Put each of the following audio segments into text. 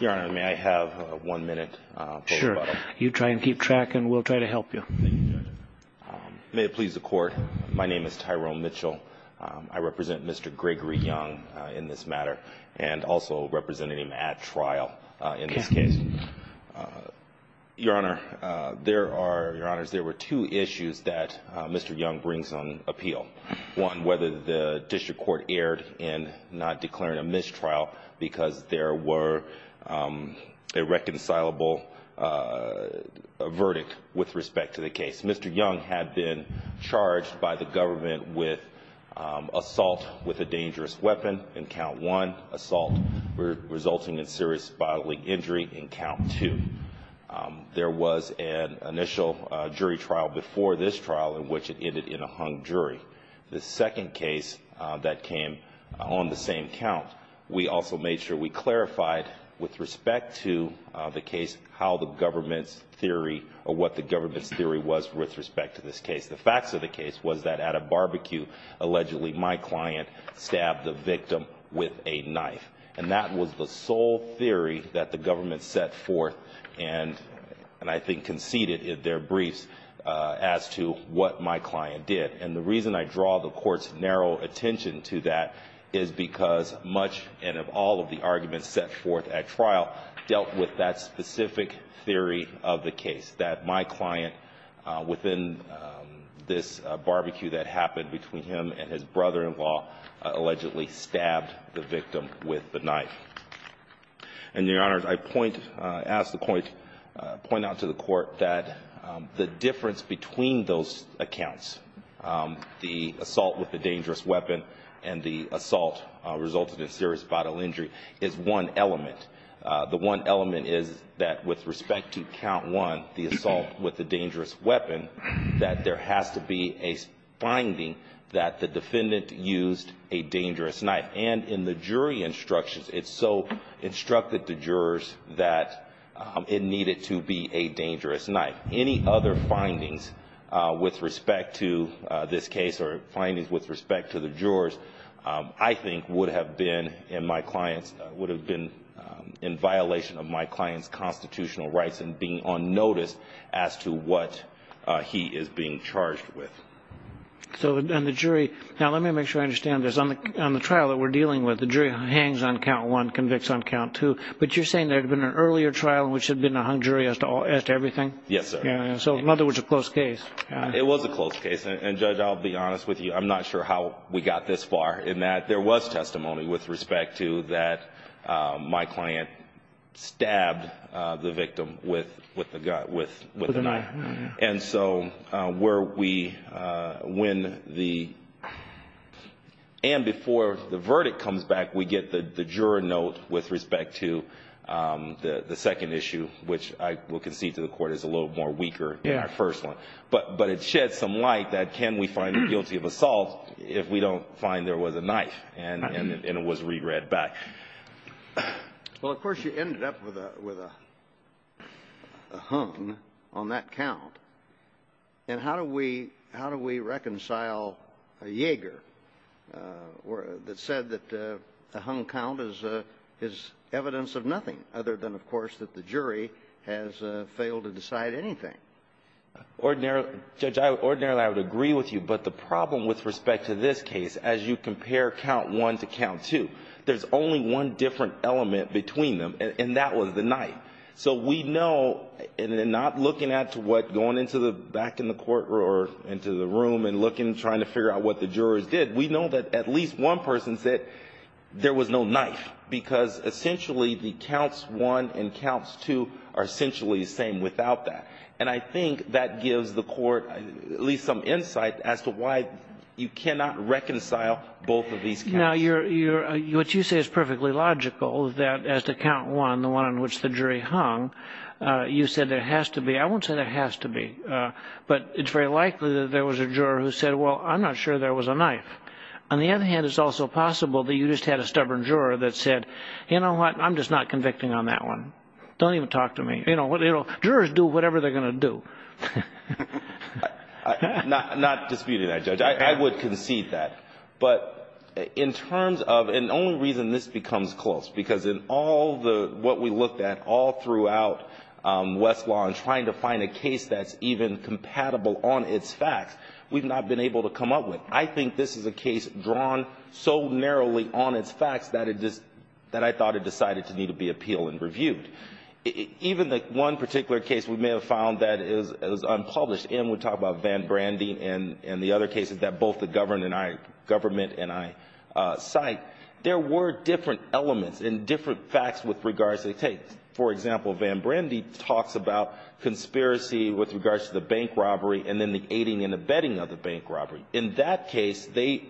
Your Honor, may I have one minute? Sure. You try and keep track and we'll try to help you. Thank you, Judge. May it please the Court, my name is Tyrone Mitchell. I represent Mr. Gregory Young in this matter and also representing him at trial in this case. Your Honor, there are, Your Honors, there were two issues that Mr. Young brings on appeal. One, whether the district court erred in not declaring a mistrial because there were a reconcilable verdict with respect to the case. Mr. Young had been charged by the government with assault with a dangerous weapon in count one, assault resulting in serious bodily injury in count two. There was an initial jury trial before this trial in which it ended in a hung jury. The second case that came on the same count, we also made sure we clarified with respect to the case how the government's theory or what the government's theory was with respect to this case. The facts of the case was that at a barbecue, allegedly, my client stabbed the victim with a knife. And that was the sole theory that the what my client did. And the reason I draw the Court's narrow attention to that is because much and of all of the arguments set forth at trial dealt with that specific theory of the case, that my client, within this barbecue that happened between him and his brother-in-law, allegedly stabbed the victim with the knife. And, Your Honors, I point, ask the Court, point out to the Court that the difference between those accounts, the assault with a dangerous weapon and the assault resulting in serious bodily injury, is one element. The one element is that with respect to count one, the assault with the dangerous weapon, that there has to be a finding that the defendant used a dangerous knife. And in the jury instructions, it's so to be a dangerous knife. Any other findings with respect to this case or findings with respect to the jurors, I think would have been in my client's, would have been in violation of my client's constitutional rights and being on notice as to what he is being charged with. So, and the jury, now let me make sure I understand this. On the trial that we're dealing with, the jury hangs on count one, convicts on count two. But you're saying there had been an earlier trial in which there had been a hung jury as to everything? Yes, sir. So, in other words, a close case. It was a close case. And, Judge, I'll be honest with you. I'm not sure how we got this far in that there was testimony with respect to that my client stabbed the victim with the knife. And so, where we, when the, and before the verdict comes back, we get the juror note with respect to the second issue, which I will concede to the court is a little more weaker than our first one. But it sheds some light that can we find guilty of assault if we don't find there was a knife and it was re-read back? Well, of course, you ended up with a hung on that count. And how do we reconcile a Jaeger that said that a hung count is evidence of nothing other than, of course, that the jury has failed to decide anything? Ordinarily, Judge, ordinarily, I would agree with you. But the problem with respect to this case, as you compare count one to count two, there's only one different element between them, and that was the knife. So we know, and not looking at what going into the back in the courtroom or into the room and looking and trying to figure out what the jurors did, we know that at least one person said there was no knife. Because essentially, the counts one and counts two are essentially the same without that. And I think that gives the court at least some insight as to why you cannot reconcile both of these counts. Now, you're, what you say is perfectly logical that as to count one, the one on which the jury hung, you said there has to be, I won't say there has to be, but it's very likely that there was a juror who said, well, I'm not sure there was a knife. On the other hand, it's also possible that you just had a stubborn juror that said, you know what, I'm just not convicting on that one. Don't even talk to me. You know, jurors do whatever they're going to do. I'm not disputing that, Judge. I would concede that. But in terms of, and the only reason this becomes close, because in all the, what we looked at all throughout Westlaw in trying to find a case that's even compatible on its facts, we've not been able to come up with. I think this is a case drawn so narrowly on its facts that it just, that I thought it decided to need to be appealed and reviewed. Even the one particular case we may have found that is unpublished, and we talk about Van Brandy and the other cases that both the government and I cite, there were different elements and different facts with regards to the case. For example, Van Brandy talks about conspiracy with regards to the bank robbery and then the aiding and abetting of the bank robbery. In that case, they,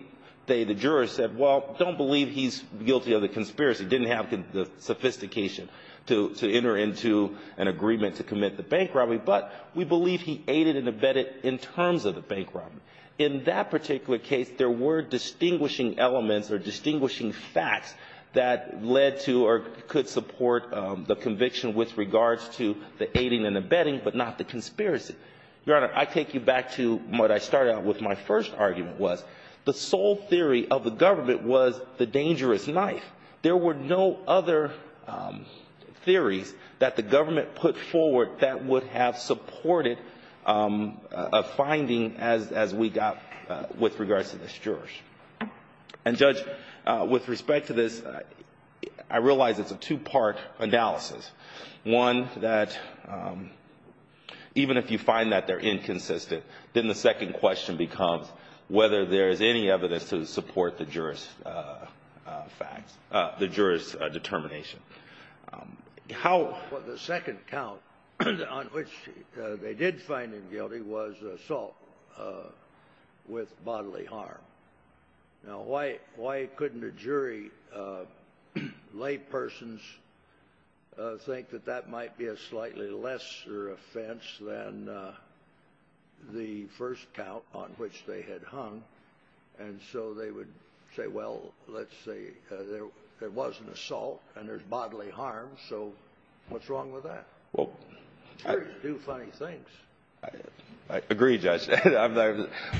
the jurors said, well, don't believe he's guilty of the conspiracy, didn't have the sophistication to enter into an agreement to commit the bank robbery, but we believe he aided and abetted in terms of the bank robbery. In that particular case, there were distinguishing elements or distinguishing facts that led to or could support the conviction with regards to the aiding and abetting, but not the conspiracy. Your Honor, I take you back to what I started out with my first argument was, the sole theory of the government was the dangerous knife. There were no other theories that the government put forward that would have supported a finding as we got with regards to this jurors. And Judge, with respect to this, I realize it's a two-part analysis. One, that even if you find that they're inconsistent, then the second question becomes whether there's any evidence to support the jurors' facts, the jurors' determination. How... Well, the second count on which they did find him guilty was assault with bodily harm. Now, why couldn't a jury, laypersons, think that that might be a slightly lesser offense than the first count on which they had hung? And so they would say, well, let's say there was an assault and there's bodily harm, so what's wrong with that? Well... Jurors do funny things. I agree, Judge.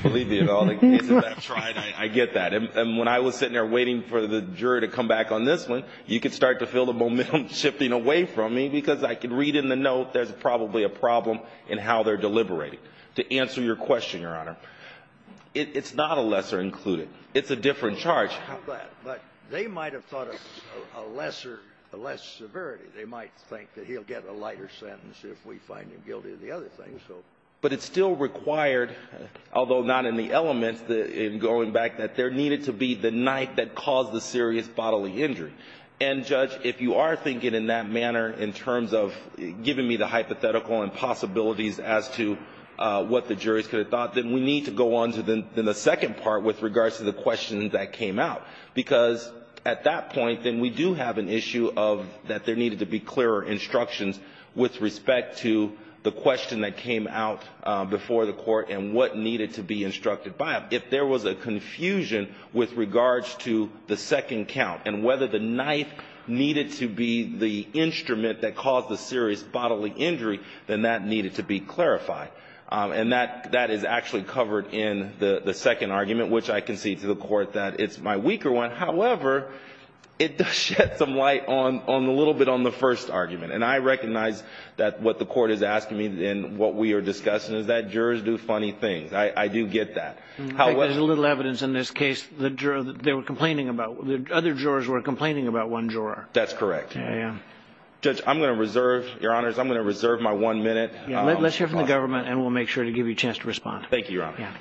Believe me, in all the cases I've tried, I get that. And when I was sitting there waiting for the jury to come back on this one, you could start to feel the momentum shifting away from me because I could read in the note there's probably a problem in how they're deliberating. To answer your question, Your Honor, it's not a lesser included. It's a different charge. But they might have thought of a lesser, a less severity. They might think that he'll get a lighter sentence if we find him guilty of the other things, so... But it still required, although not in the elements, in going back, that there needed to be the night that caused the serious bodily injury. And, Judge, if you are thinking in that manner, in terms of giving me the hypothetical and possibilities as to what the jurors could have thought, then we need to go on to the second part with regards to the question that came out. Because at that point, then we do have an issue of that needed to be clearer instructions with respect to the question that came out before the court and what needed to be instructed by it. If there was a confusion with regards to the second count and whether the night needed to be the instrument that caused the serious bodily injury, then that needed to be clarified. And that is actually covered in the second argument, which I concede to the court that it's my weaker one. However, it does shed some light on the little bit on the first argument. And I recognize that what the court is asking me and what we are discussing is that jurors do funny things. I do get that. There's little evidence in this case that other jurors were complaining about one juror. That's correct. Judge, I'm going to reserve, Your Honors, I'm going to reserve my one minute. Let's hear from the government, and we'll make sure to give you a chance to respond. Thank you, Your Honor.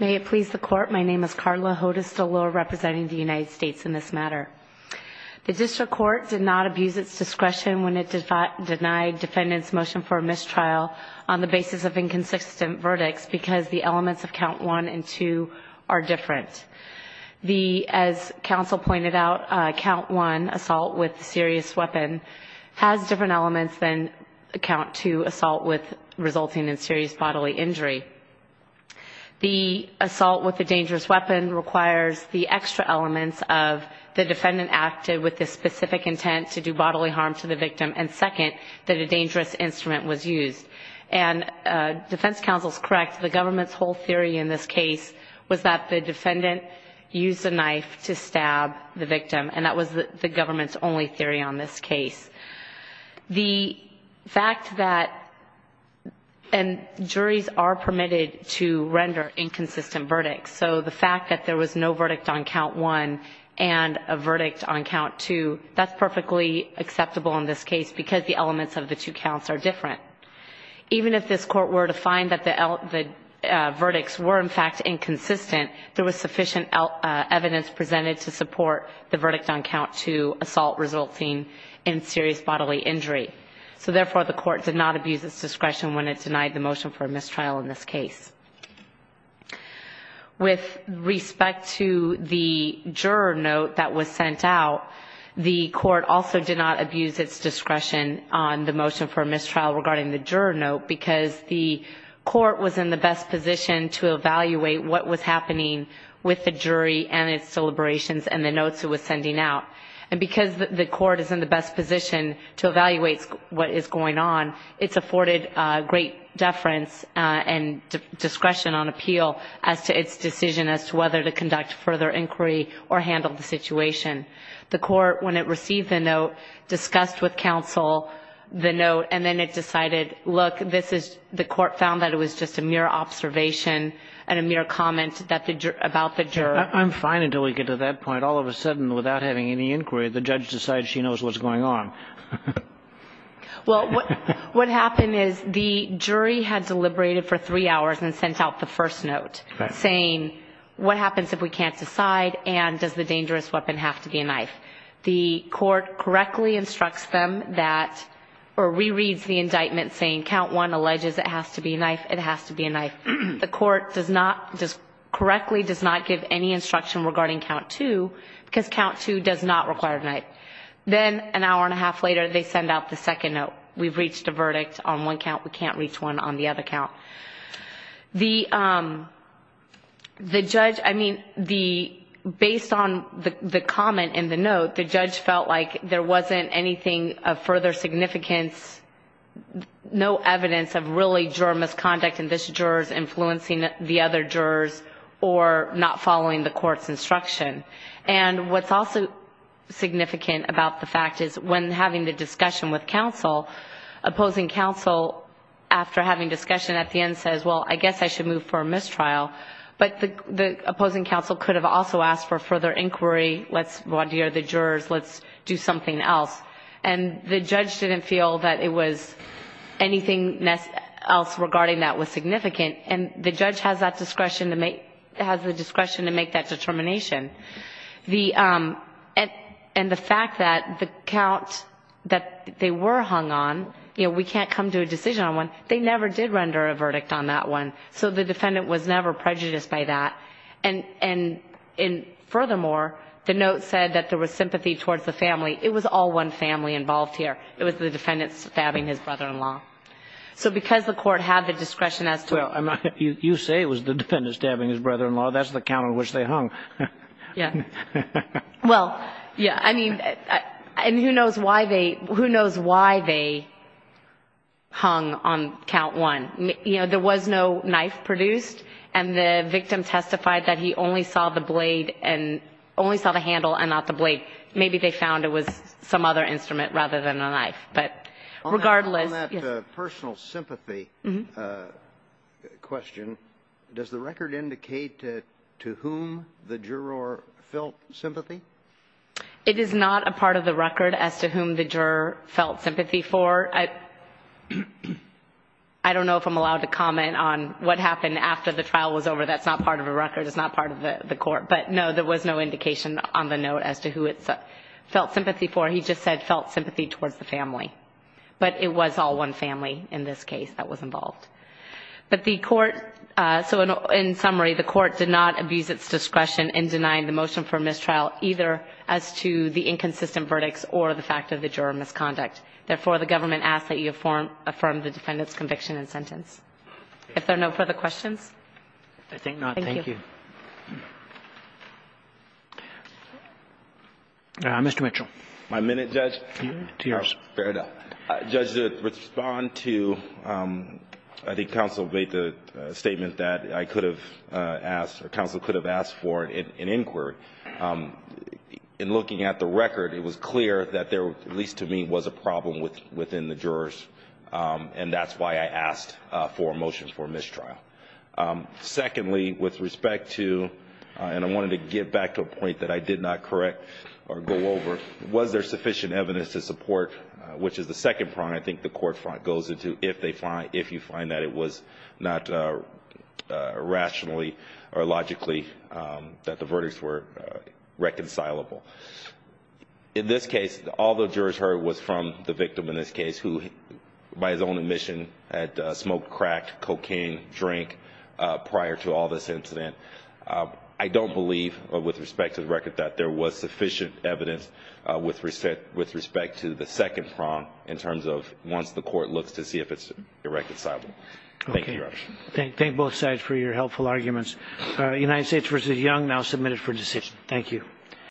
May it please the Court, my name is Carla Hodes DeLure, representing the United States in this matter. The district court did not abuse its discretion when it denied defendants' motion for mistrial on the basis of inconsistent verdicts because the elements of count one and two are different. As counsel pointed out, count one, assault with a serious weapon, has different elements than count two, assault resulting in serious bodily injury. The assault with a dangerous weapon requires the extra elements of the defendant acted with the specific intent to do bodily harm to the victim, and second, that a dangerous instrument was used. And defense counsel is correct. The government's whole theory in this case was that the defendant used a knife to stab the victim, and that was the government's only theory on this case. The fact that, and juries are permitted to render inconsistent verdicts, so the fact that there was no verdict on count one and a verdict on count two, that's perfectly acceptable in this case because the elements of the two counts are different. Even if this court were to find that the verdicts were in fact inconsistent, there was sufficient evidence presented to support the verdict on count two, assault resulting in serious bodily injury. So therefore the court did not abuse its discretion when it denied the motion for mistrial in this case. With respect to the juror note that was sent out, the court also did not abuse its discretion on the motion for mistrial regarding the juror note because the court was in the best position to evaluate what was happening with the jury and its deliberations and the notes it was sending out. And because the court is in the best position to evaluate what is going on, it's afforded great deference and discretion on appeal as to its decision as to whether to conduct further inquiry or handle the situation. The court, when it received the note, discussed with counsel the note and then it decided, look, the court found that it was just a mere observation and a mere comment about the juror. I'm fine until we get to that point. All of a sudden, without having any inquiry, the judge decides she knows what's going on. Well, what happened is the jury had deliberated for three hours and sent out the first note saying, what happens if we can't decide and does the dangerous weapon have to be a knife? The court correctly instructs them that, or re-reads the indictment saying count one alleges it has to be a knife, it has to be a knife. The court correctly does not give any instruction regarding count two because count two does not require a knife. Then an hour and a half later, they send out the second note. We've reached a verdict on one count. We can't reach one on the other count. The judge, I mean, based on the comment in the note, the judge felt like there wasn't anything of further significance, no evidence of really juror misconduct in this juror's influencing the other jurors or not following the court's instruction. And what's also significant about the fact is when having the discussion with counsel, opposing counsel after having discussion at the end says, well, I guess I should move for a mistrial. But the opposing counsel could have also asked for further inquiry, let's vandeer the jurors, let's do something else. And the judge didn't feel that it was anything else regarding that was significant. And the judge has that discretion to make, has the discretion to make that determination. The, and the fact that the count, that the they were hung on, you know, we can't come to a decision on one. They never did render a verdict on that one. So the defendant was never prejudiced by that. And, and in, furthermore, the note said that there was sympathy towards the family. It was all one family involved here. It was the defendants stabbing his brother-in-law. So because the court had the discretion as to, you say it was the defendants stabbing his brother-in-law. That's the count on which they hung. Yeah. Well, yeah. I mean, and who knows why they, who knows why they hung on count one. You know, there was no knife produced. And the victim testified that he only saw the blade and only saw the handle and not the blade. Maybe they found it was some other instrument rather than a knife. But regardless. On that personal sympathy question, does the record indicate to whom the juror felt sympathy? It is not a part of the record as to whom the juror felt sympathy for. I don't know if I'm allowed to comment on what happened after the trial was over. That's not part of the record. It's not part of the court. But no, there was no indication on the note as to who it felt sympathy for. He just said felt sympathy towards the family. But it was all one family in this case that was involved. But the court, so in summary, the court did not abuse its discretion in denying the motion for mistrial either as to the inconsistent verdicts or the fact of the juror misconduct. Therefore, the government asks that you affirm the defendant's conviction and sentence. If there are no further questions. I think not. Thank you. Thank you. Mr. Mitchell. My minute, Judge. To yours. Fair enough. Judge, to respond to I think counsel made the statement that I could have asked or counsel could have asked for an inquiry. In looking at the record, it was clear that there, at least to me, was a problem within the jurors. And that's why I asked for a motion for mistrial. Secondly, with respect to, and I wanted to get back to a point that I did not correct or go over, was there sufficient evidence to support, which is the second problem I think the court goes into if you find that it was not rationally or logically that the verdicts were reconcilable. In this case, all the jurors heard was from the victim in this case who, by his own admission, had smoked crack, cocaine, drank prior to all this incident. I don't believe, with respect to the record, that there was sufficient evidence with respect to the second problem in terms of once the court looks to see if it's reconcilable. Thank you, Judge. Thank both sides for your helpful arguments. United States v. Young, now submitted for decision. Thank you.